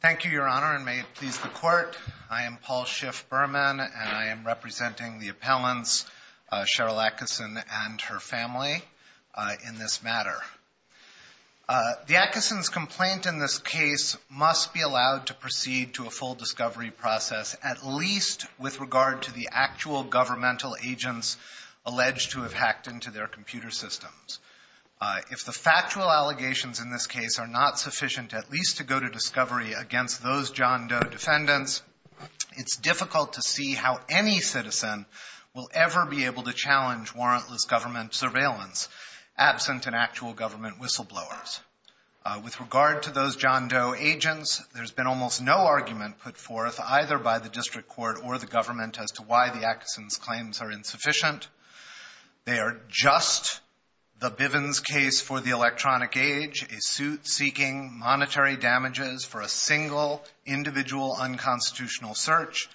Thank you, Your Honor, and may it please the Court, I am Paul Schiff Berman and I am representing the appellants, Sharyl Attkisson and her family, in this matter. The Attkisson's complaint in this case must be allowed to proceed to a full discovery process, at least with regard to the actual governmental agents alleged to have hacked into their computer systems. If the factual allegations in this case are not sufficient at least to go to discovery against those John Doe defendants, it's difficult to see how any citizen, will ever be able to challenge warrantless government surveillance absent an actual government whistleblowers. With regard to those John Doe agents, there's been almost no argument put forth either by the district court or the government as to why the Attkisson's claims are insufficient. They are just the Bivens case for the electronic age, a suit seeking monetary damages for a single individual unconstitutional search.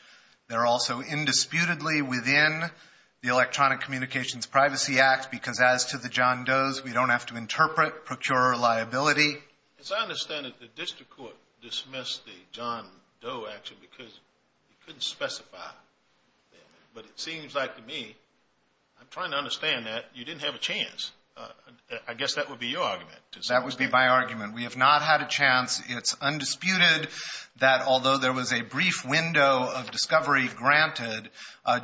They're also indisputably within the Electronic Communications Privacy Act because as to the John Doe's, we don't have to interpret, procure, or liability. As I understand it, the district court dismissed the John Doe action because it couldn't specify. But it seems like to me, I'm trying to understand that, you didn't have a chance. I guess that would be your argument. That would be my argument. We have not had a chance. It's undisputed that although there was a brief window of discovery granted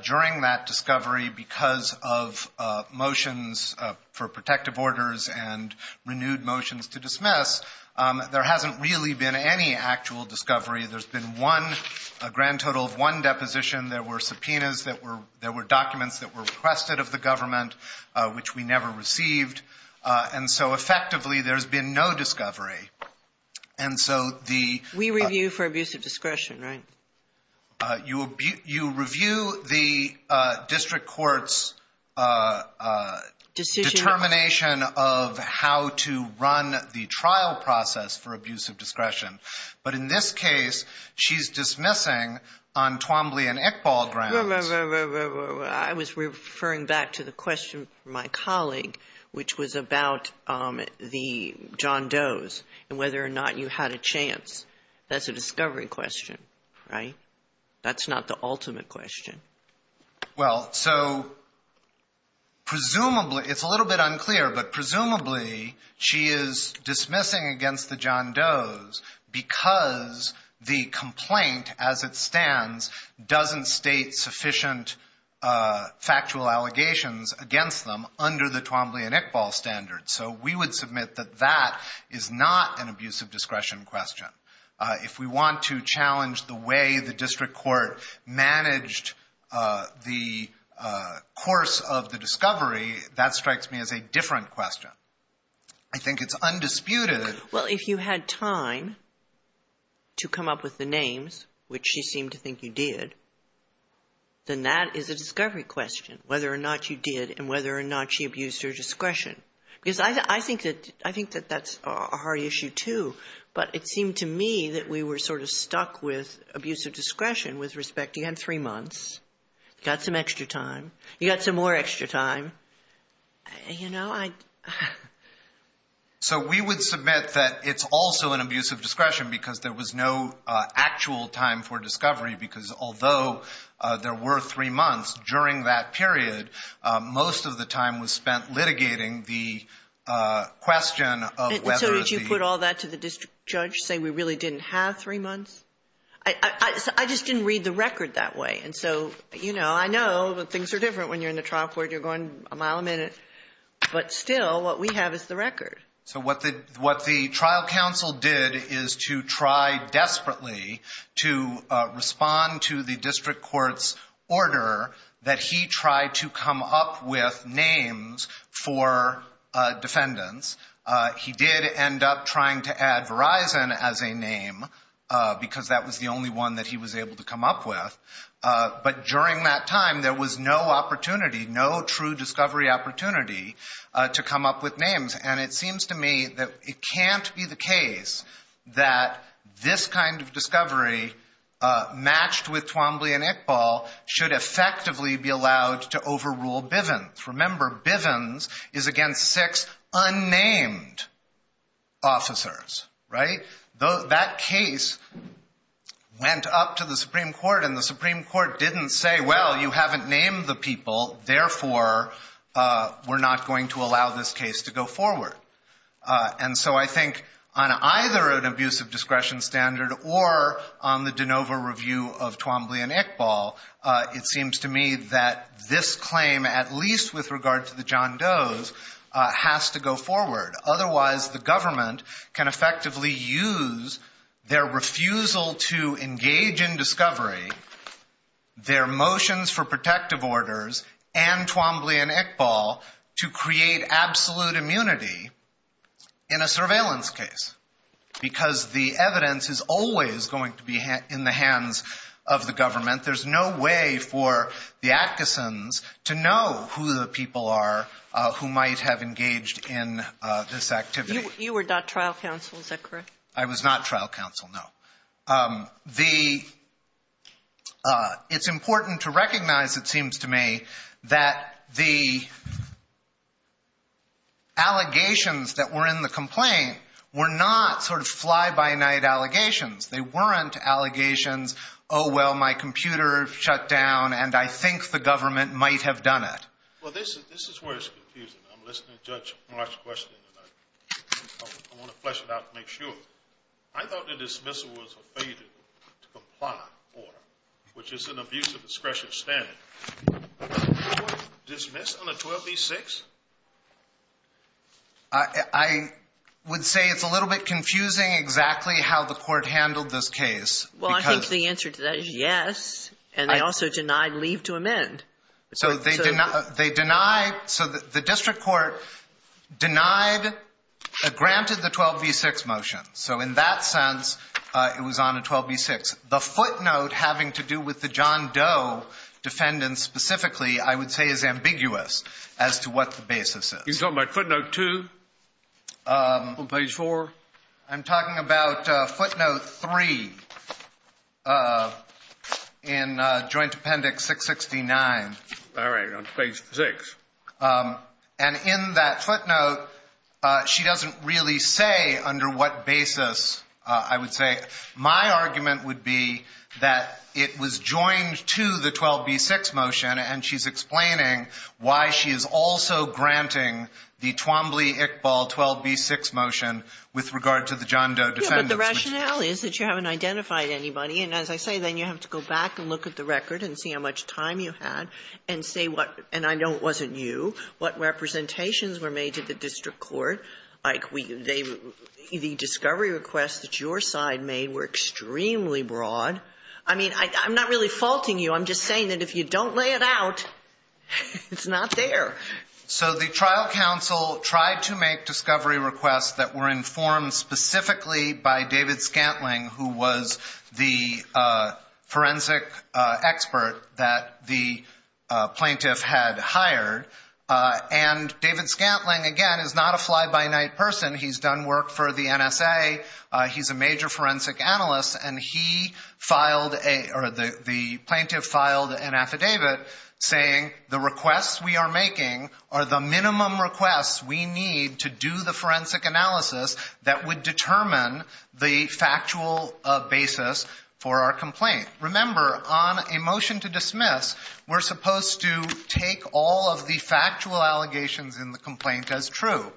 during that discovery because of motions for protective orders and renewed motions to dismiss, there hasn't really been any actual discovery. There's been one, a grand total of one deposition. There were subpoenas. There were documents that were requested of the government, which we never received. And so effectively, there's been no discovery. And so the We review for abuse of discretion, right? You review the district court's determination of how to run the trial process for abuse of discretion. But in this case, she's dismissing on Twombly and Iqbal grounds. I was referring back to the question from my colleague, which was about the John Doe's and whether or not you had a chance. That's a discovery question, right? That's not the ultimate question. Well, so presumably it's a little bit unclear, but presumably she is dismissing against the John Doe's because the complaint as it stands doesn't state sufficient factual allegations against them under the Twombly and Iqbal standards. So we would submit that that is not an abuse of discretion question. If we want to challenge the way the district court managed the course of the discovery, that strikes me as a different question. I think it's undisputed. Well, if you had time to come up with the names, which she seemed to think you did, then that is a discovery question, whether or not you did and whether or not she abused her discretion. Because I think that that's a hard issue, too. But it seemed to me that we were sort of stuck with abuse of discretion with respect. You had three months. You got some extra time. You got some more extra time. You know, I So we would submit that it's also an abuse of discretion because there was no actual time for discovery, because although there were three months during that period, most of the time was spent litigating the question of whether you put all that to the district judge, say we really didn't have three months. I just didn't read the record that way. And so, you know, I know that things are different when you're in the trial court. You're going a mile a minute. But still, what we have is the record. So what the trial counsel did is to try desperately to respond to the district court's order that he try to come up with names for defendants. He did end up trying to add Verizon as a name because that was the only one that he was able to come up with. But during that time, there was no opportunity, no true discovery opportunity to come up with names. And it seems to me that it can't be the case that this kind of discovery matched with Twombly and Iqbal should effectively be allowed to overrule Bivens. Remember, Bivens is against six unnamed officers, right? That case went up to the Supreme Court, and the Supreme Court didn't say, well, you haven't named the people. Therefore, we're not going to allow this case to go forward. And so I think on either an abusive discretion standard or on the DeNova review of Twombly and Iqbal, it seems to me that this claim, at least with regard to the John Doe's, has to go forward. Otherwise, the government can effectively use their refusal to engage in discovery, their motions for protective orders, and Twombly and Iqbal to create absolute immunity. In a surveillance case. Because the evidence is always going to be in the hands of the government. There's no way for the Atkinsons to know who the people are who might have engaged in this activity. You were not trial counsel, is that correct? I was not trial counsel, no. It's important to recognize, it seems to me, that the allegations that were in the complaint were not sort of fly-by-night allegations. They weren't allegations, oh, well, my computer shut down, and I think the government might have done it. Well, this is where it's confusing. I'm listening to Judge Marsh's question, and I want to flesh it out to make sure. I thought the dismissal was a failure to comply order, which is an abusive discretion standard. You want to dismiss on a 12b-6? I would say it's a little bit confusing exactly how the court handled this case. Well, I think the answer to that is yes, and they also denied leave to amend. So they denied, so the district court denied, granted the 12b-6 motion. So in that sense, it was on a 12b-6. The footnote having to do with the John Doe defendants specifically, I would say, is ambiguous as to what the basis is. You're talking about footnote 2 on page 4? I'm talking about footnote 3 in Joint Appendix 669. All right, on page 6. And in that footnote, she doesn't really say under what basis, I would say. My argument would be that it was joined to the 12b-6 motion, and she's explaining why she is also granting the Twombly-Iqbal 12b-6 motion with regard to the John Doe defendants. But the rationale is that you haven't identified anybody. And as I say, then you have to go back and look at the record and see how much time you had and say what – and I know it wasn't you – what representations were made to the district court. Like, the discovery requests that your side made were extremely broad. I mean, I'm not really faulting you. I'm just saying that if you don't lay it out, it's not there. So the trial counsel tried to make discovery requests that were informed specifically by David Scantling, who was the forensic expert that the plaintiff had hired. And David Scantling, again, is not a fly-by-night person. He's done work for the NSA. He's a major forensic analyst. And he filed a – or the plaintiff filed an affidavit saying the requests we are making are the minimum requests we need to do the forensic analysis that would determine the factual basis for our complaint. And remember, on a motion to dismiss, we're supposed to take all of the factual allegations in the complaint as true,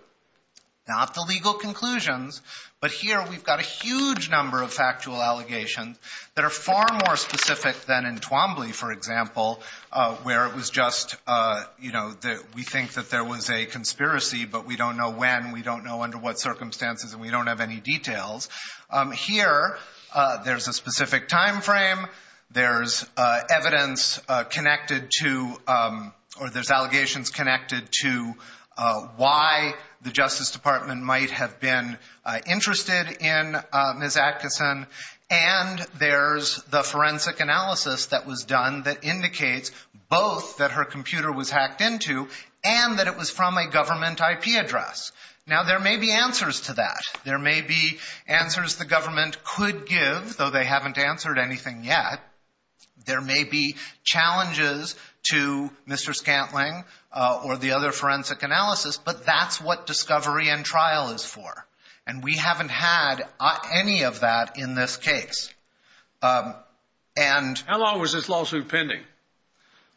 not the legal conclusions. But here we've got a huge number of factual allegations that are far more specific than in Twombly, for example, where it was just, you know, we think that there was a conspiracy, but we don't know when, we don't know under what circumstances, and we don't have any details. Here, there's a specific timeframe. There's evidence connected to – or there's allegations connected to why the Justice Department might have been interested in Ms. Atkinson. And there's the forensic analysis that was done that indicates both that her computer was hacked into and that it was from a government IP address. Now, there may be answers to that. There may be answers the government could give, though they haven't answered anything yet. There may be challenges to Mr. Scantling or the other forensic analysis, but that's what discovery and trial is for. And we haven't had any of that in this case. And – How long was this lawsuit pending?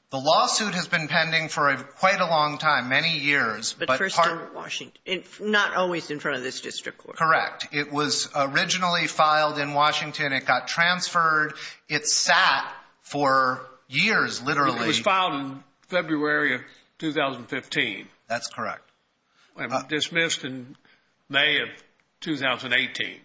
The lawsuit has been pending for quite a long time, many years. But first in Washington. Not always in front of this district court. Correct. It was originally filed in Washington. It got transferred. It sat for years, literally. It was filed in February of 2015. That's correct. And dismissed in May of 2018.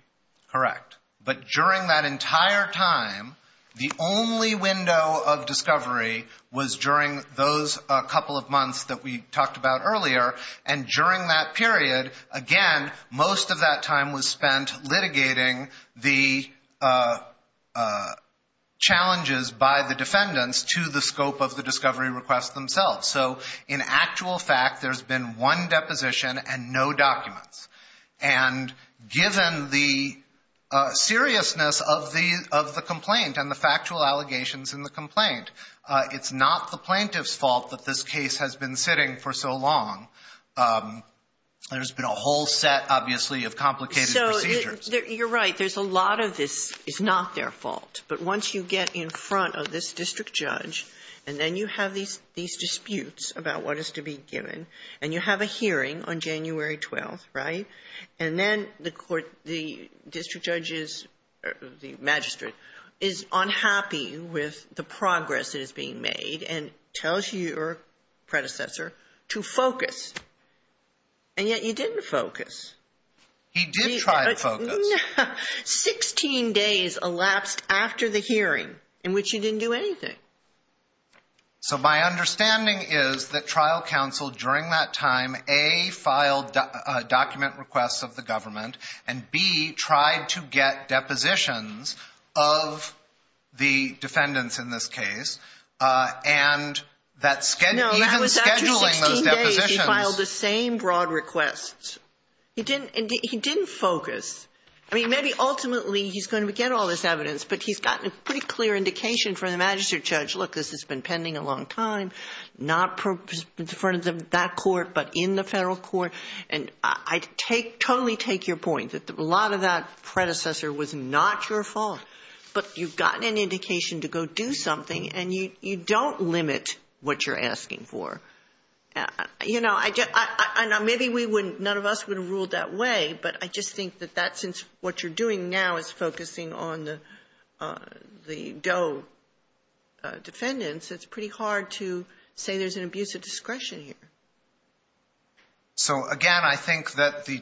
Correct. But during that entire time, the only window of discovery was during those couple of months that we talked about earlier. And during that period, again, most of that time was spent litigating the challenges by the defendants to the scope of the discovery requests themselves. So in actual fact, there's been one deposition and no documents. And given the seriousness of the complaint and the factual allegations in the complaint, it's not the plaintiff's fault that this case has been sitting for so long. There's been a whole set, obviously, of complicated procedures. You're right. There's a lot of this is not their fault. But once you get in front of this district judge, and then you have these disputes about what is to be given, and you have a hearing on January 12th, right? And then the court – the district judge is – the magistrate is unhappy with the progress that is being made and tells your predecessor to focus. And yet you didn't focus. He did try to focus. 16 days elapsed after the hearing in which he didn't do anything. So my understanding is that trial counsel during that time, A, filed document requests of the government, and B, tried to get depositions of the defendants in this case. And that – even scheduling those depositions – No, that was after 16 days. He filed the same broad requests. He didn't – he didn't focus. I mean, maybe ultimately he's going to get all this evidence, but he's gotten a pretty clear indication from the magistrate judge, look, this has been pending a long time, not in front of that court, but in the federal court. And I take – totally take your point that a lot of that predecessor was not your fault. But you've gotten an indication to go do something, and you don't limit what you're asking for. You know, I – maybe we wouldn't – none of us would have ruled that way, but I just think that since what you're doing now is focusing on the Doe defendants, it's pretty hard to say there's an abuse of discretion here. So, again, I think that the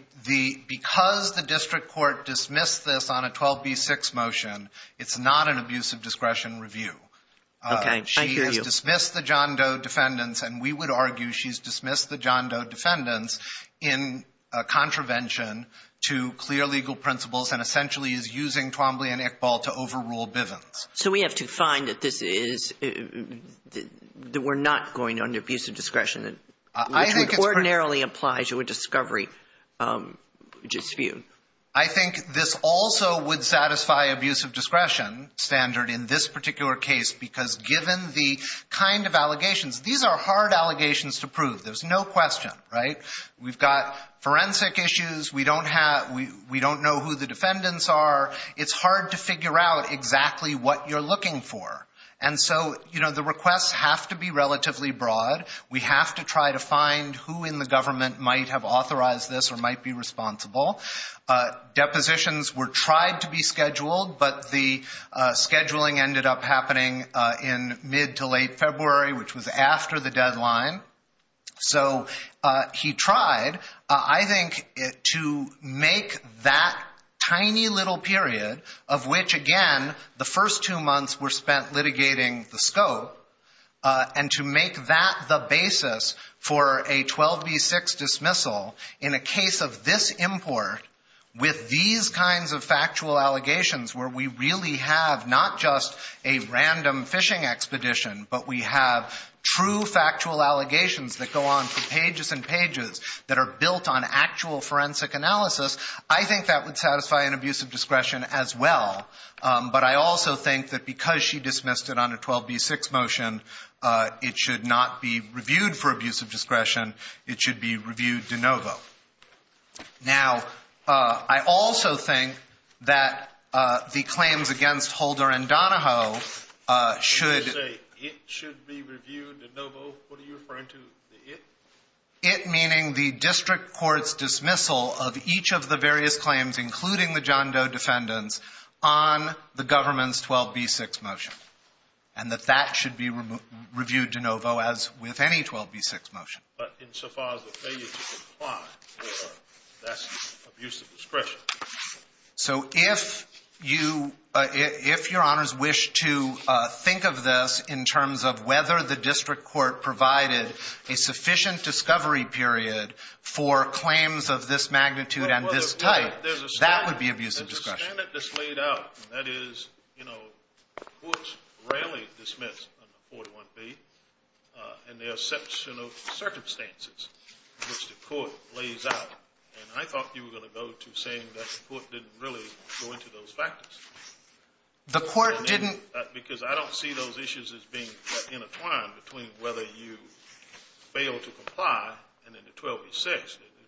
– because the district court dismissed this on a 12B6 motion, it's not an abuse of discretion review. Okay. I hear you. She's dismissed the John Doe defendants, and we would argue she's dismissed the John Doe defendants in contravention to clear legal principles and essentially is using Twombly and Iqbal to overrule Bivens. So we have to find that this is – that we're not going under abuse of discretion, which would ordinarily apply to a discovery dispute. I think this also would satisfy abuse of discretion standard in this particular case, because given the kind of allegations – these are hard allegations to prove. There's no question, right? We've got forensic issues. We don't have – we don't know who the defendants are. It's hard to figure out exactly what you're looking for. And so, you know, the requests have to be relatively broad. We have to try to find who in the government might have authorized this or might be responsible. Depositions were tried to be scheduled, but the scheduling ended up happening in mid to late February, which was after the deadline. So he tried, I think, to make that tiny little period of which, again, the first two months were spent litigating the scope, and to make that the basis for a 12B6 dismissal in a case of this import with these kinds of factual allegations where we really have not just a random fishing expedition, but we have true factual allegations that go on for pages and pages that are built on actual forensic analysis, I think that would satisfy an abuse of discretion as well. But I also think that because she dismissed it on a 12B6 motion, it should not be reviewed for abuse of discretion. It should be reviewed de novo. Now, I also think that the claims against Holder and Donahoe should – When you say it should be reviewed de novo, what are you referring to, the it? It meaning the district court's dismissal of each of the various claims, including the John Doe defendants, on the government's 12B6 motion, and that that should be reviewed de novo as with any 12B6 motion. But insofar as the failure to comply, that's abuse of discretion. So if your honors wish to think of this in terms of whether the district court provided a sufficient discovery period for claims of this magnitude and this type, that would be abuse of discretion. There's a standard that's laid out, and that is courts rarely dismiss on the 41B, and there are certain circumstances in which the court lays out. And I thought you were going to go to saying that the court didn't really go into those factors. The court didn't – Because I don't see those issues as being intertwined between whether you fail to comply and then the 12B6.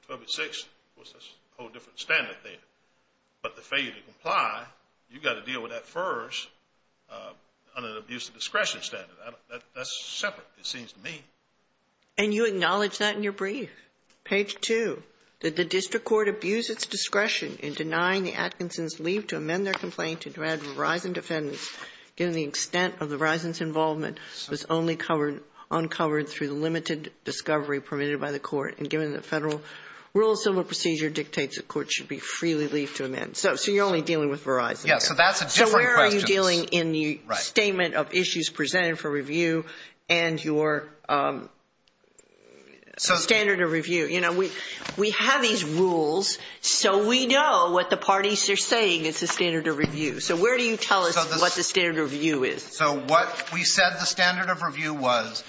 The 12B6 was a whole different standard there. But the failure to comply, you've got to deal with that first on an abuse of discretion standard. That's separate, it seems to me. And you acknowledge that in your brief. Page 2. Did the district court abuse its discretion in denying the Atkinsons leave to amend their complaint and to add Verizon defendants, given the extent of the Verizon's involvement was only uncovered through the limited discovery permitted by the court, and given that Federal Rule of Civil Procedure dictates the court should be freely leave to amend? So you're only dealing with Verizon. Yeah, so that's a different question. So where are you dealing in the statement of issues presented for review and your standard of review? You know, we have these rules, so we know what the parties are saying is the standard of review. So where do you tell us what the standard of review is? So what we said the standard of review was,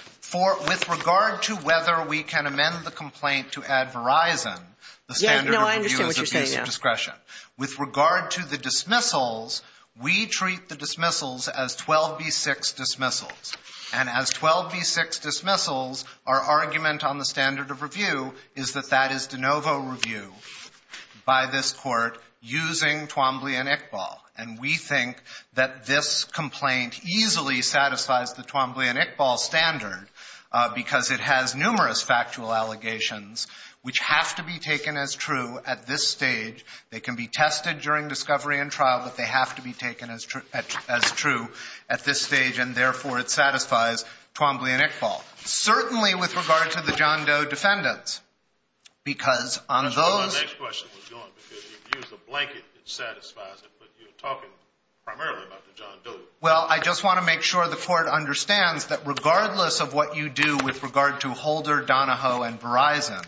with regard to whether we can amend the complaint to add Verizon, the standard of review is abuse of discretion. With regard to the dismissals, we treat the dismissals as 12B6 dismissals. And as 12B6 dismissals, our argument on the standard of review is that that is de novo review by this court, using Twombly and Iqbal. And we think that this complaint easily satisfies the Twombly and Iqbal standard because it has numerous factual allegations which have to be taken as true at this stage. They can be tested during discovery and trial, but they have to be taken as true at this stage, and therefore it satisfies Twombly and Iqbal. Certainly with regard to the John Doe defendants, because on those – That's where my next question was going, because you used a blanket that satisfies it, but you're talking primarily about the John Doe. Well, I just want to make sure the court understands that regardless of what you do with regard to Holder, Donahoe, and Verizon,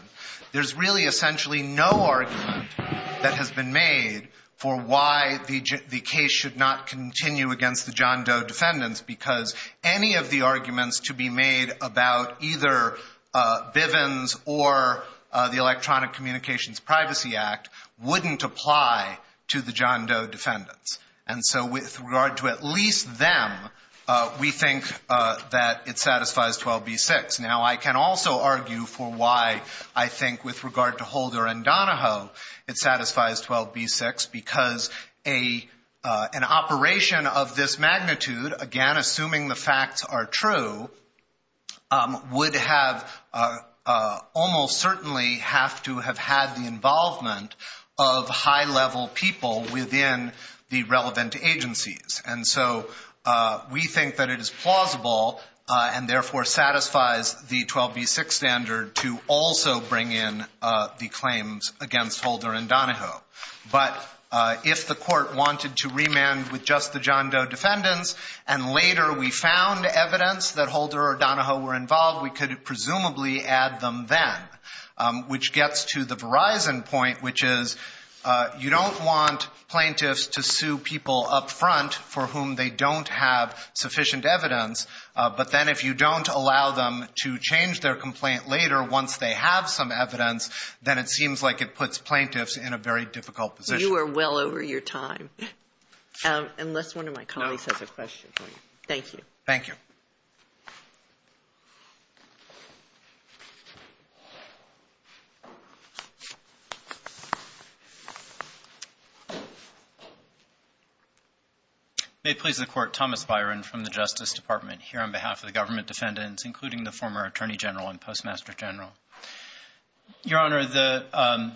there's really essentially no argument that has been made for why the case should not continue against the John Doe defendants because any of the arguments to be made about either Bivens or the Electronic Communications Privacy Act wouldn't apply to the John Doe defendants. And so with regard to at least them, we think that it satisfies 12B6. Now, I can also argue for why I think with regard to Holder and Donahoe it satisfies 12B6, because an operation of this magnitude, again, assuming the facts are true, would have almost certainly have to have had the involvement of high-level people within the relevant agencies. And so we think that it is plausible and therefore satisfies the 12B6 standard to also bring in the claims against Holder and Donahoe. But if the court wanted to remand with just the John Doe defendants and later we found evidence that Holder or Donahoe were involved, we could presumably add them then, which gets to the Verizon point, which is you don't want plaintiffs to sue people up front for whom they don't have sufficient evidence, but then if you don't allow them to change their complaint later once they have some evidence, then it seems like it puts plaintiffs in a very difficult position. You are well over your time, unless one of my colleagues has a question for you. Thank you. Thank you. May it please the Court, Thomas Byron from the Justice Department here on behalf of the government defendants, including the former Attorney General and Postmaster General. Your Honor, the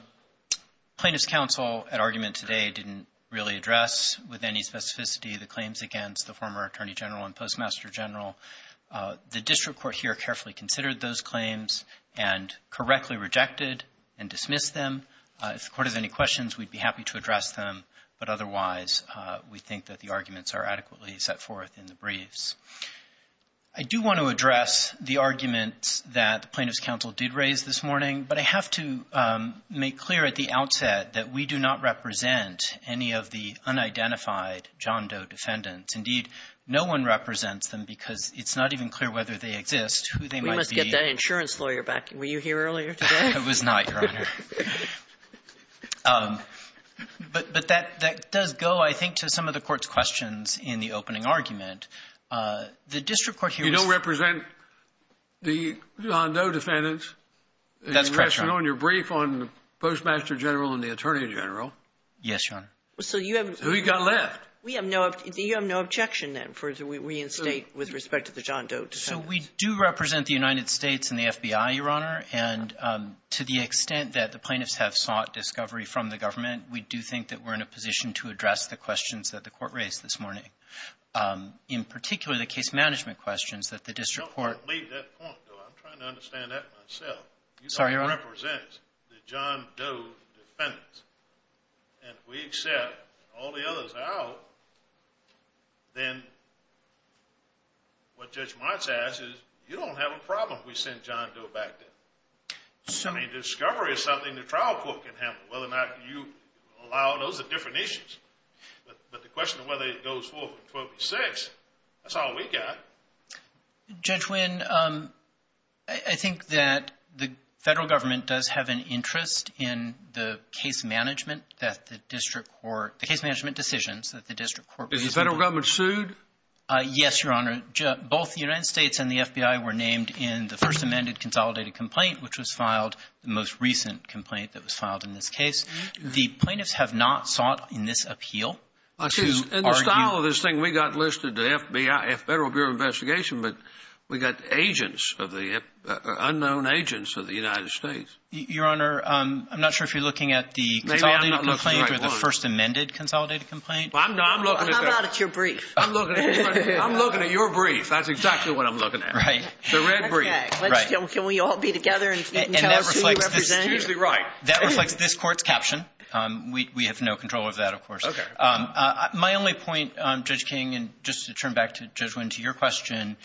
Plaintiffs' Counsel at argument today didn't really address with any specificity the claims against the former Attorney General and Postmaster General. The district court here carefully considered those claims and correctly rejected and dismissed them. If the court has any questions, we'd be happy to address them, but otherwise we think that the arguments are adequately set forth in the briefs. I do want to address the arguments that the Plaintiffs' Counsel did raise this morning, but I have to make clear at the outset that we do not represent any of the unidentified John Doe defendants. Indeed, no one represents them because it's not even clear whether they exist, who they might be. We must get that insurance lawyer back. Were you here earlier today? I was not, Your Honor. But that does go, I think, to some of the Court's questions in the opening argument. The district court here was — You don't represent the John Doe defendants — That's correct, Your Honor. — in your briefing on the Postmaster General and the Attorney General. Yes, Your Honor. So you have — So who have you got left? We have no — you have no objection, then, for the reinstatement with respect to the John Doe defendants? So we do represent the United States and the FBI, Your Honor. And to the extent that the plaintiffs have sought discovery from the government, we do think that we're in a position to address the questions that the Court raised this morning, in particular the case management questions that the district court — Don't leave that point, Doe. I'm trying to understand that myself. Sorry, Your Honor. You don't represent the John Doe defendants. And if we accept all the others out, then what Judge Martz asks is, you don't have a problem if we send John Doe back there. So — I mean, discovery is something the trial court can handle. Whether or not you allow — those are different issues. But the question of whether it goes forth in 1286, that's all we've got. Judge Wynn, I think that the federal government does have an interest in the case management that the district court — the case management decisions that the district court — Is the federal government sued? Yes, Your Honor. Both the United States and the FBI were named in the first amended consolidated complaint, which was filed, the most recent complaint that was filed in this case. The plaintiffs have not sought in this appeal to argue — In the style of this thing, we got listed to FBI, Federal Bureau of Investigation, but we got agents of the — unknown agents of the United States. Your Honor, I'm not sure if you're looking at the consolidated complaint — Maybe I'm not looking at the right one. — or the first amended consolidated complaint. I'm looking at the — How about at your brief? I'm looking at everybody. I'm looking at your brief. That's exactly what I'm looking at. Right. The red brief. Okay. Right. Can we all be together and you can tell us who you represent? And that reflects — That's usually right. That reflects this court's caption. We have no control over that, of course. Okay. My only point, Judge King, and just to turn back to Judge Wynn, to your question,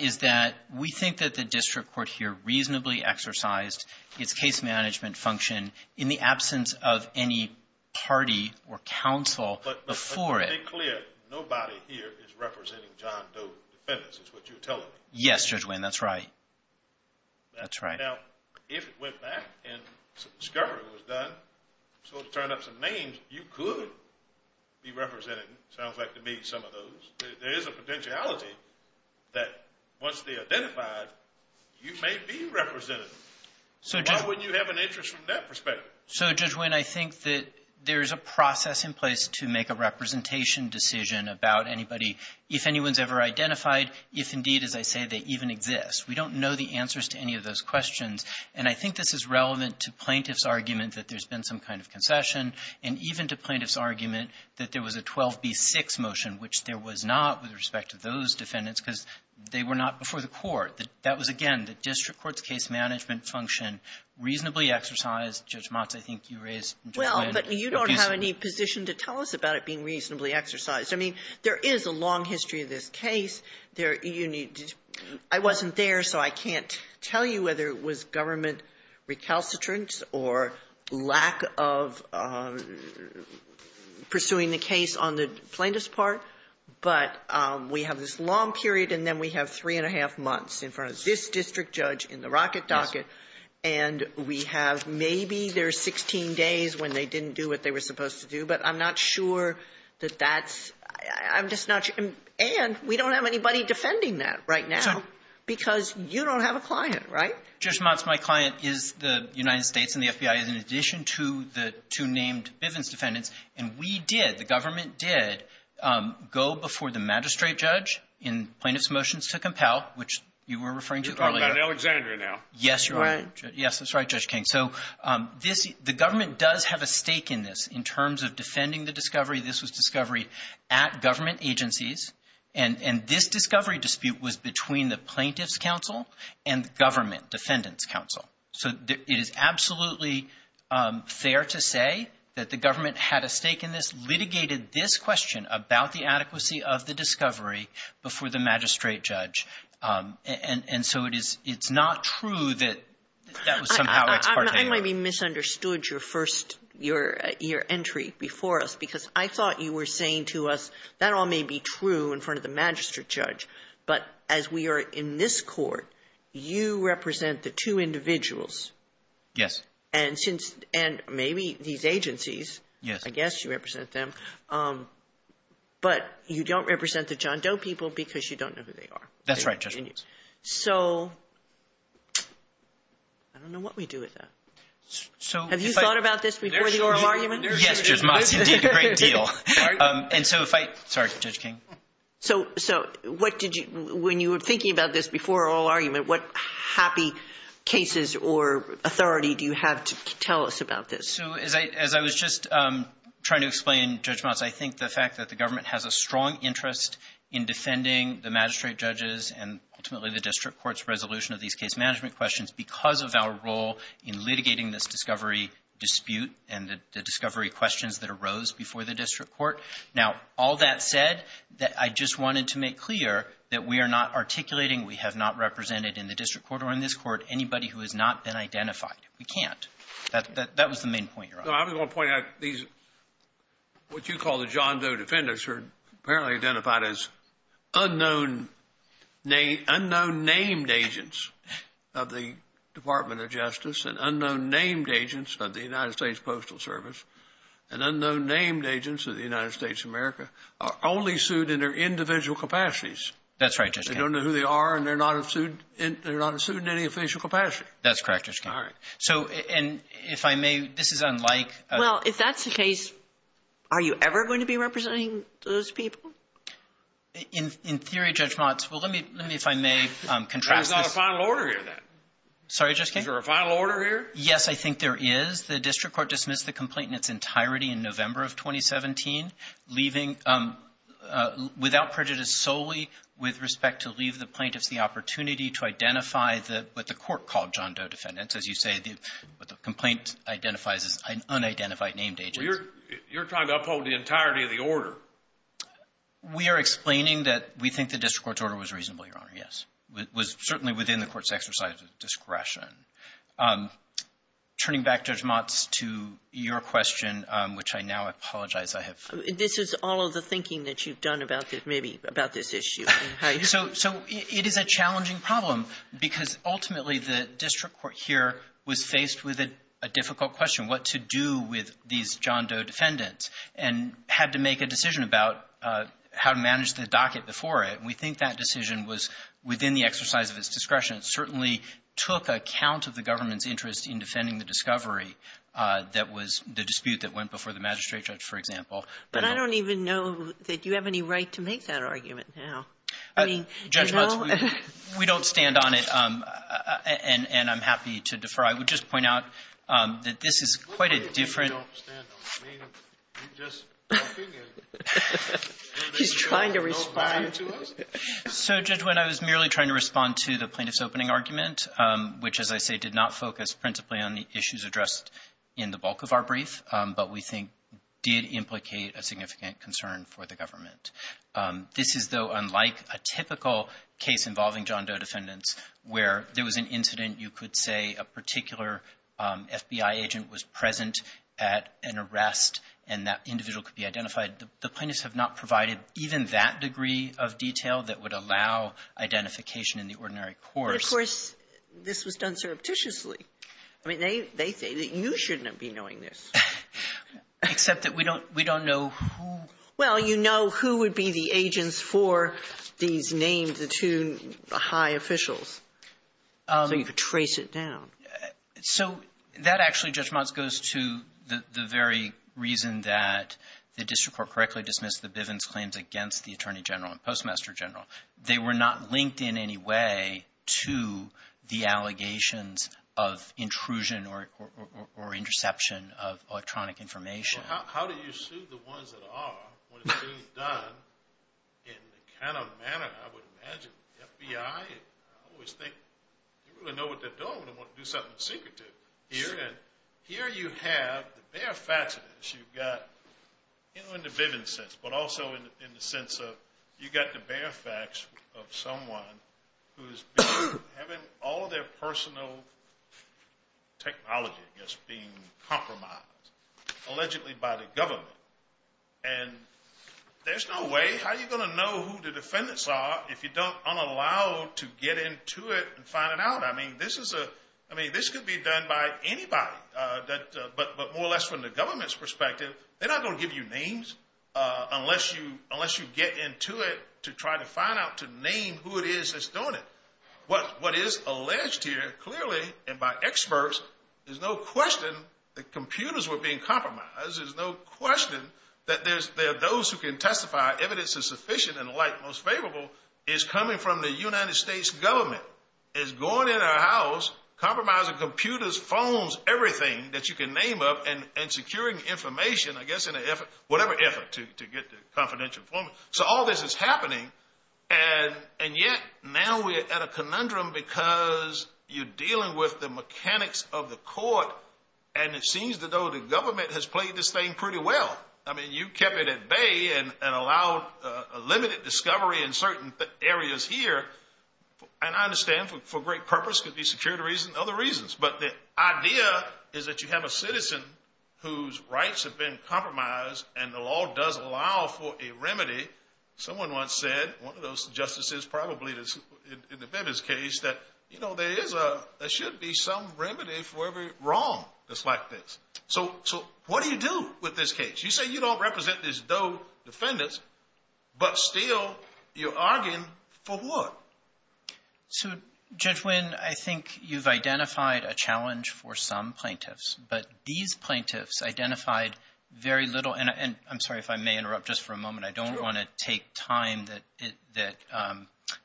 is that we think that the district court here reasonably exercised its case management function in the absence of any party or counsel before it. But to be clear, nobody here is representing John Doe defendants, is what you're telling me. Yes, Judge Wynn. That's right. That's right. Now, if it went back and discovery was done, so to turn up some names, you could be represented, sounds like to me, some of those. There is a potentiality that once they're identified, you may be represented. So, Judge — Why wouldn't you have an interest from that perspective? So, Judge Wynn, I think that there is a process in place to make a representation decision about anybody, if anyone's ever identified, if indeed, as I say, they even exist. We don't know the answers to any of those questions. And I think this is relevant to plaintiff's argument that there's been some kind of concession and even to plaintiff's argument that there was a 12b-6 motion, which there was not with respect to those defendants because they were not before the court. That was, again, the district court's case management function reasonably exercised. Judge Motz, I think you raised — Well, but you don't have any position to tell us about it being reasonably exercised. I mean, there is a long history of this case. I wasn't there, so I can't tell you whether it was government recalcitrance or lack of pursuing the case on the plaintiff's part, but we have this long period and then we have three and a half months in front of this district judge in the rocket docket. Yes. And we have — maybe there's 16 days when they didn't do what they were supposed to do, but I'm not sure that that's — I'm just not — And we don't have anybody defending that right now because you don't have a client, right? Judge Motz, my client is the United States and the FBI in addition to the two named Bivens defendants, and we did — the government did go before the magistrate judge in plaintiff's motions to compel, which you were referring to earlier. You're talking about Alexander now. Yes, Your Honor. Right. Yes, that's right, Judge King. So this — the government does have a stake in this in terms of defending the discovery. This was discovery at government agencies, and this discovery dispute was between the plaintiff's counsel and the government defendant's counsel. So it is absolutely fair to say that the government had a stake in this, litigated this question about the adequacy of the discovery before the magistrate judge. And so it is — it's not true that that was somehow exparted. But I maybe misunderstood your first — your entry before us because I thought you were saying to us that all may be true in front of the magistrate judge, but as we are in this court, you represent the two individuals. Yes. And since — and maybe these agencies. Yes. I guess you represent them. But you don't represent the John Doe people because you don't know who they are. That's right, Judge Motz. So I don't know what we do with that. Have you thought about this before the oral argument? Yes, Judge Motz. Indeed, a great deal. And so if I — sorry, Judge King. So what did you — when you were thinking about this before oral argument, what happy cases or authority do you have to tell us about this? So as I was just trying to explain, Judge Motz, I think the fact that the government has a strong interest in defending the magistrate judges and ultimately the district court's resolution of these case management questions because of our role in litigating this discovery dispute and the discovery questions that arose before the district court. Now, all that said, I just wanted to make clear that we are not articulating, we have not represented in the district court or in this court anybody who has not been identified. That was the main point you're offering. No, I was going to point out these — what you call the John Doe defenders who are apparently identified as unknown named agents of the Department of Justice and unknown named agents of the United States Postal Service and unknown named agents of the United States of America are only sued in their individual capacities. That's right, Judge King. They don't know who they are, and they're not sued in any official capacity. That's correct, Judge King. All right. So — and if I may, this is unlike — Well, if that's the case, are you ever going to be representing those people? In theory, Judge Motz, well, let me — let me, if I may, contrast this — There's not a final order here, then. Sorry, Judge King? Is there a final order here? Yes, I think there is. The district court dismissed the complaint in its entirety in November of 2017, leaving — without prejudice solely with respect to leave the plaintiffs the opportunity to identify what the court called John Doe defendants. As you say, what the complaint identifies is unidentified named agents. You're trying to uphold the entirety of the order. We are explaining that we think the district court's order was reasonable, Your Honor. Yes. It was certainly within the court's exercise of discretion. Turning back, Judge Motz, to your question, which I now apologize I have — This is all of the thinking that you've done about this, maybe, about this issue. So — so it is a challenging problem, because ultimately the district court here was faced with a difficult question, what to do with these John Doe defendants, and had to make a decision about how to manage the docket before it. And we think that decision was within the exercise of its discretion. It certainly took account of the government's interest in defending the discovery that was the dispute that went before the magistrate judge, for example. But I don't even know that you have any right to make that argument now. I mean, you know — Judge Motz, we don't stand on it. And I'm happy to defer. I would just point out that this is quite a different — What do you mean you don't stand on it? I mean, you're just talking, and — He's trying to respond. So, Judge, when I was merely trying to respond to the plaintiff's opening argument, which, as I say, did not focus principally on the issues addressed in the bulk of our concern for the government. This is, though, unlike a typical case involving John Doe defendants where there was an incident, you could say a particular FBI agent was present at an arrest, and that individual could be identified. The plaintiffs have not provided even that degree of detail that would allow identification in the ordinary course. But, of course, this was done surreptitiously. I mean, they say that you shouldn't be knowing this. Except that we don't know who — Well, you know who would be the agents for these names, the two high officials. So you could trace it down. So that actually, Judge Motz, goes to the very reason that the district court correctly dismissed the Bivens claims against the Attorney General and Postmaster General. They were not linked in any way to the allegations of intrusion or interception of electronic information. Well, how do you sue the ones that are when it's being done in the kind of manner I would imagine the FBI — I always think they really know what they're doing and want to do something secretive here. And here you have the bare facts of this. You've got — you know, in the Bivens sense, but also in the sense of you've got the bare facts of someone who's been having all of their personal technology, I guess, being compromised, allegedly by the government. And there's no way — how are you going to know who the defendants are if you're not allowed to get into it and find it out? I mean, this could be done by anybody, but more or less from the government's perspective, they're not going to give you names unless you get into it to try to find out, to name who it is that's doing it. What is alleged here, clearly, and by experts, there's no question that computers were being compromised. There's no question that there are those who can testify. Evidence is sufficient and, like, most favorable. It's coming from the United States government. It's going in our house, compromising computers, phones, everything that you can name up and securing information, I guess, in an effort — whatever effort to get the confidential information. So all this is happening, and yet now we're at a conundrum because you're dealing with the mechanics of the court, and it seems as though the government has played this thing pretty well. I mean, you kept it at bay and allowed a limited discovery in certain areas here, and I understand for great purpose, could be security reasons, other reasons. But the idea is that you have a citizen whose rights have been compromised, and the law does allow for a remedy. Someone once said, one of those justices, probably, in the Bennett's case, that, you know, there is a — there should be some remedy for every wrong that's like this. So what do you do with this case? You say you don't represent these dough defendants, but still, you're arguing for what? So, Judge Winn, I think you've identified a challenge for some plaintiffs, but these plaintiffs identified very little. And I'm sorry if I may interrupt just for a moment. I don't want to take time that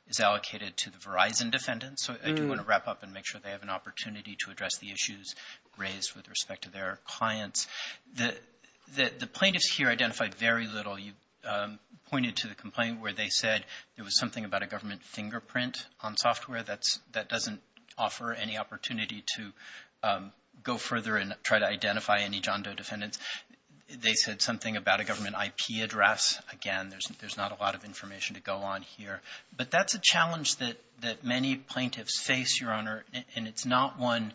is allocated to the Verizon defendants, so I do want to wrap up and make sure they have an opportunity to address the issues raised with respect to their clients. The plaintiffs here identified very little. You pointed to the complaint where they said there was something about a government fingerprint on software that doesn't offer any opportunity to go further and try to identify any John Doe defendants. They said something about a government IP address. Again, there's not a lot of information to go on here. But that's a challenge that many plaintiffs face, Your Honor, and it's not one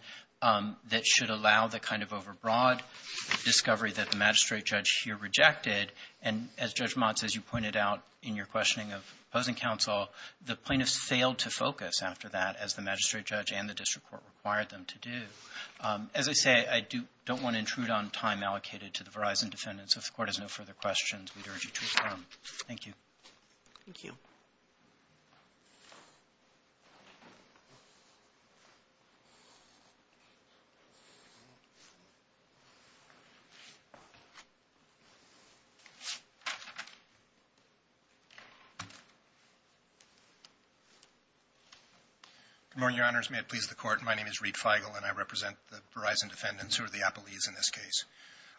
that should allow the kind of overbroad discovery that the magistrate judge here rejected. And as Judge Mott says, you pointed out in your questioning of opposing counsel, the plaintiffs failed to focus after that, as the magistrate judge and the district court required them to do. As I say, I don't want to intrude on time allocated to the Verizon defendants. If the Court has no further questions, we'd urge you to adjourn. Thank you. Thank you. Good morning, Your Honors. May it please the Court, my name is Reid Feigl, and I represent the Verizon defendants who are the appellees in this case.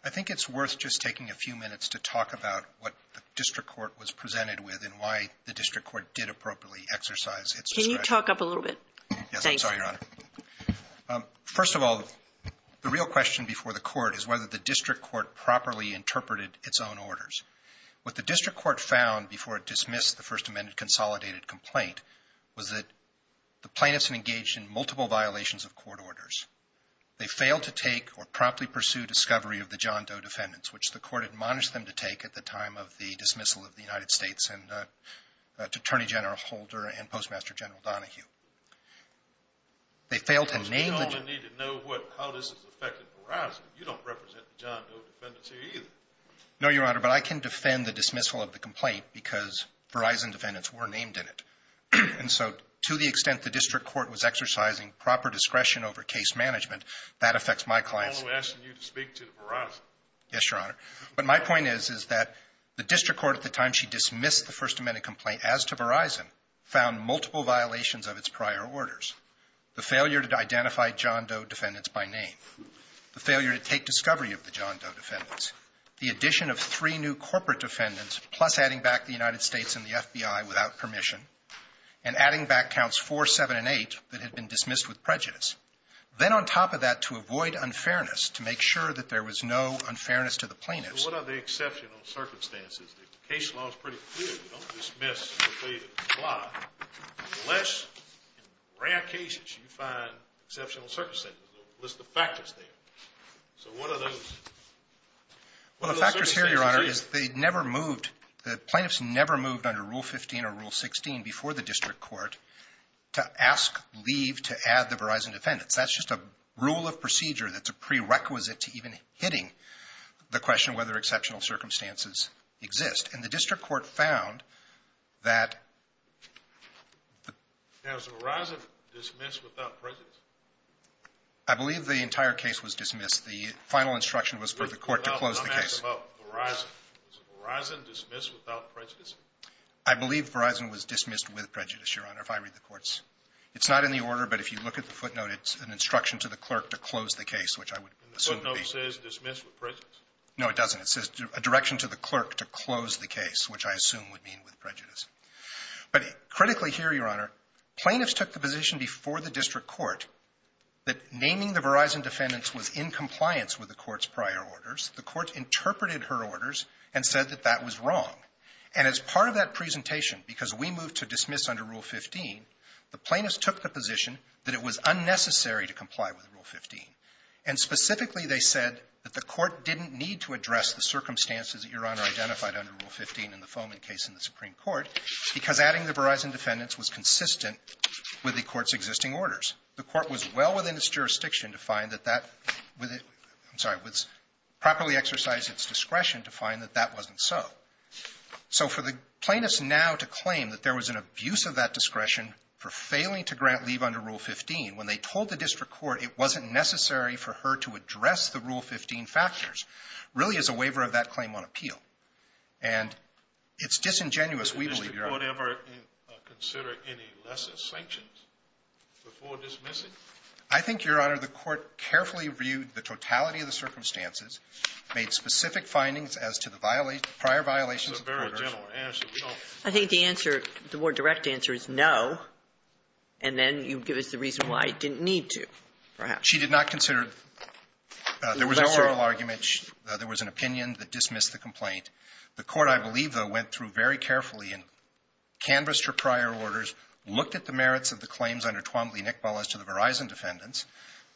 I think it's worth just taking a few minutes to talk about what the district court was presented with and why the district court did appropriately exercise its discretion. Can you talk up a little bit? Yes, I'm sorry, Your Honor. Thanks. First of all, the real question before the Court is whether the district court properly interpreted its own orders. What the district court found before it dismissed the First Amendment consolidated complaint was that the plaintiffs had engaged in multiple violations of court orders. They failed to take or promptly pursue discovery of the John Doe defendants, which the Court admonished them to take at the time of the dismissal of the United States Attorney General Holder and Postmaster General Donahue. They failed to name the John Doe defendants. You don't need to know how this has affected Verizon. You don't represent the John Doe defendants here either. No, Your Honor, but I can defend the dismissal of the complaint because Verizon defendants were named in it. And so to the extent the district court was exercising proper discretion over case management, that affects my clients. I'm only asking you to speak to Verizon. Yes, Your Honor. But my point is, is that the district court at the time she dismissed the First Amendment complaint as to Verizon found multiple violations of its prior orders, the failure to identify John Doe defendants by name, the failure to take discovery of the John Doe defendants, the addition of three new corporate defendants, plus adding back the United States and the FBI without permission, and adding back counts 4, 7, and 8 that had been dismissed with prejudice. Then on top of that, to avoid unfairness, to make sure that there was no unfairness to the plaintiffs. So what are the exceptional circumstances? The case law is pretty clear. You don't dismiss your claim to comply unless in rare cases you find exceptional circumstances. There's a list of factors there. So what are those? Well, the factors here, Your Honor, is they never moved. The plaintiffs never moved under Rule 15 or Rule 16 before the district court to ask, leave, to add the Verizon defendants. That's just a rule of procedure that's a prerequisite to even hitting the question whether exceptional circumstances exist. And the district court found that the – Now, is Verizon dismissed without prejudice? I believe the entire case was dismissed. The final instruction was for the court to close the case. I'm asking about Verizon. Is Verizon dismissed without prejudice? I believe Verizon was dismissed with prejudice, Your Honor. If I read the courts, it's not in the order, but if you look at the footnote, it's an instruction to the clerk to close the case, which I would assume would be. And the footnote says dismissed with prejudice? No, it doesn't. It says a direction to the clerk to close the case, which I assume would mean with prejudice. But critically here, Your Honor, plaintiffs took the position before the district court that naming the Verizon defendants was in compliance with the court's prior orders. The court interpreted her orders and said that that was wrong. And as part of that presentation, because we moved to dismiss under Rule 15, the plaintiffs took the position that it was unnecessary to comply with Rule 15. And specifically, they said that the court didn't need to address the circumstances that Your Honor identified under Rule 15 in the Fomin case in the Supreme Court because adding the Verizon defendants was consistent with the court's existing orders. The court was well within its jurisdiction to find that that – I'm sorry, was properly exercised its discretion to find that that wasn't so. So for the plaintiffs now to claim that there was an abuse of that discretion for failing to grant leave under Rule 15 when they told the district court it wasn't necessary for her to address the Rule 15 factors really is a waiver of that claim on appeal. And it's disingenuous, we believe, Your Honor. Did the district court ever consider any lesser sanctions before dismissing? I think, Your Honor, the court carefully reviewed the totality of the circumstances, made specific findings as to the prior violations of the court orders. I think the answer, the more direct answer is no, and then you give us the reason why it didn't need to, perhaps. She did not consider – there was no oral argument. There was an opinion that dismissed the complaint. The court, I believe, though, went through very carefully and canvassed her prior orders, looked at the merits of the claims under Twombly-Nickball as to the Verizon defendants,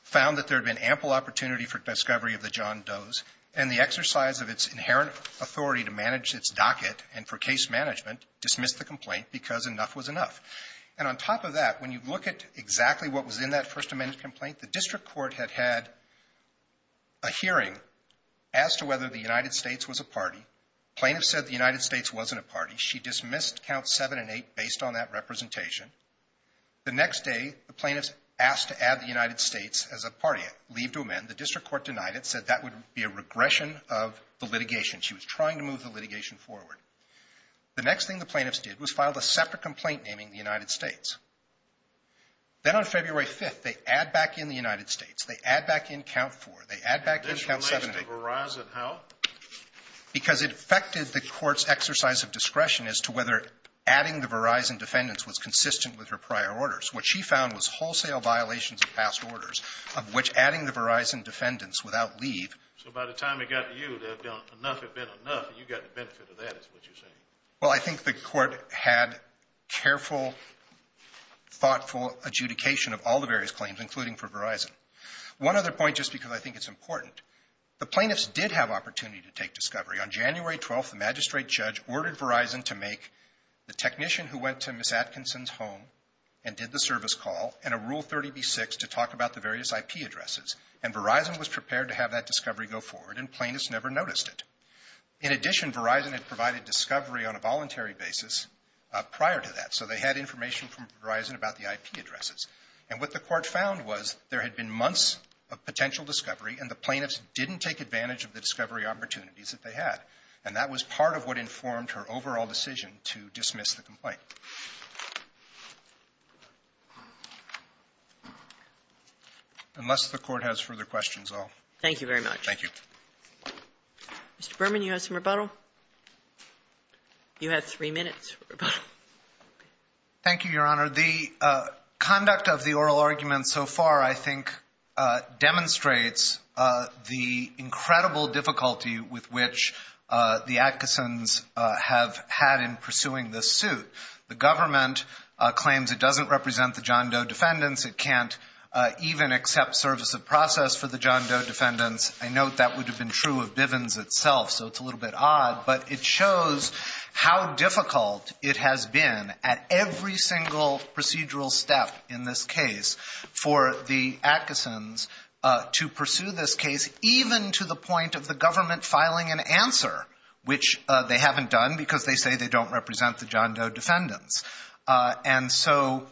found that there had been ample opportunity for discovery of the John Rose, and the exercise of its inherent authority to manage its docket and for case management dismissed the complaint because enough was enough. And on top of that, when you look at exactly what was in that First Amendment complaint, the district court had had a hearing as to whether the United States was a party. Plaintiffs said the United States wasn't a party. She dismissed Counts 7 and 8 based on that representation. The next day, the plaintiffs asked to add the United States as a party, leave to amend. The district court denied it, said that would be a regression of the litigation. She was trying to move the litigation forward. The next thing the plaintiffs did was filed a separate complaint naming the United States. Then on February 5th, they add back in the United States. They add back in Count 4. They add back in Count 7 and 8. This relates to Verizon. How? Because it affected the court's exercise of discretion as to whether adding the Verizon defendants was consistent with her prior orders. What she found was wholesale violations of past orders of which adding the Verizon defendants without leave. So by the time it got to you, enough had been enough, and you got the benefit of that, is what you're saying. Well, I think the court had careful, thoughtful adjudication of all the various claims, including for Verizon. One other point, just because I think it's important, the plaintiffs did have opportunity to take discovery. On January 12th, the magistrate judge ordered Verizon to make the technician who went to Ms. Atkinson's home and did the service call and a Rule 30b-6 to talk about the various IP addresses. And Verizon was prepared to have that discovery go forward, and plaintiffs never noticed it. In addition, Verizon had provided discovery on a voluntary basis prior to that. So they had information from Verizon about the IP addresses. And what the court found was there had been months of potential discovery, and the plaintiffs didn't take advantage of the discovery opportunities that they had. And that was part of what informed her overall decision to dismiss the complaint. Unless the Court has further questions, I'll go. Thank you very much. Thank you. Mr. Berman, you have some rebuttal? You have three minutes for rebuttal. Thank you, Your Honor. The conduct of the oral argument so far, I think, demonstrates the incredible difficulty with which the Atkinsons have had in pursuing this suit. The government claims it doesn't represent the John Doe defendants. It can't even accept service of process for the John Doe defendants. I note that would have been true of Bivens itself, so it's a little bit odd. But it shows how difficult it has been at every single procedural step in this filing an answer, which they haven't done because they say they don't represent the John Doe defendants. And so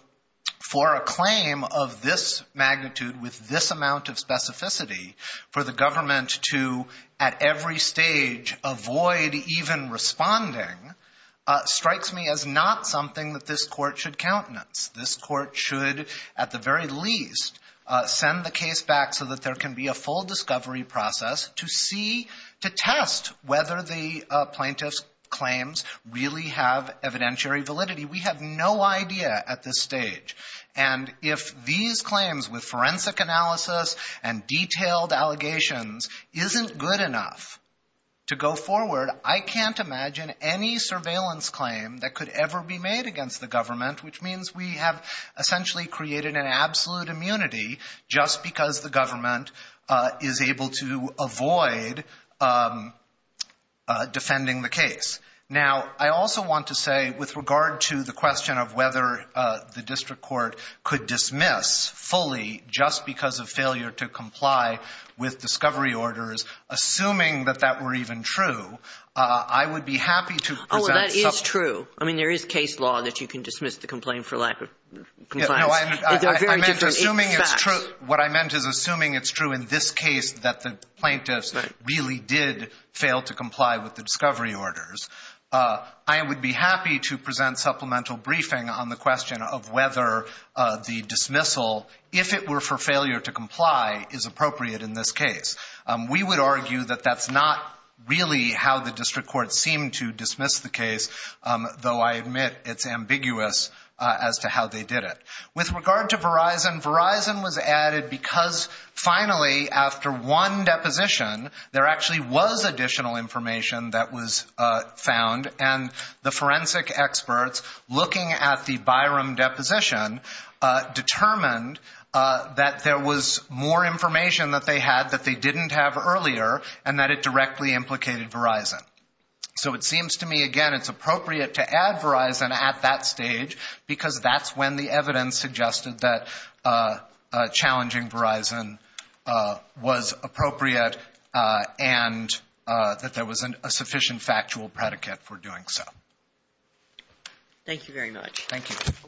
for a claim of this magnitude with this amount of specificity for the government to, at every stage, avoid even responding, strikes me as not something that this Court should countenance. This Court should, at the very least, send the case back so that there can be a full discovery process to see, to test whether the plaintiff's claims really have evidentiary validity. We have no idea at this stage. And if these claims with forensic analysis and detailed allegations isn't good enough to go forward, I can't imagine any surveillance claim that could ever be made against the government, which means we have essentially created an absolute immunity just because the government is able to avoid defending the case. Now, I also want to say, with regard to the question of whether the District Court could dismiss fully just because of failure to comply with discovery orders, assuming that that were even true, I would be happy to present something. Oh, that is true. I mean, there is case law that you can dismiss the complaint for lack of compliance. No, I meant assuming it's true. What I meant is assuming it's true in this case that the plaintiffs really did fail to comply with the discovery orders. I would be happy to present supplemental briefing on the question of whether the dismissal, if it were for failure to comply, is appropriate in this case. We would argue that that's not really how the District Court seemed to dismiss the case, though I admit it's ambiguous as to how they did it. With regard to Verizon, Verizon was added because finally after one deposition there actually was additional information that was found, and the forensic experts looking at the Byram deposition determined that there was more information that they had that they didn't have earlier and that it directly implicated Verizon. So it seems to me, again, it's appropriate to add Verizon at that stage because that's when the evidence suggested that challenging Verizon was appropriate and that there was a sufficient factual predicate for doing so. Thank you very much. Thank you.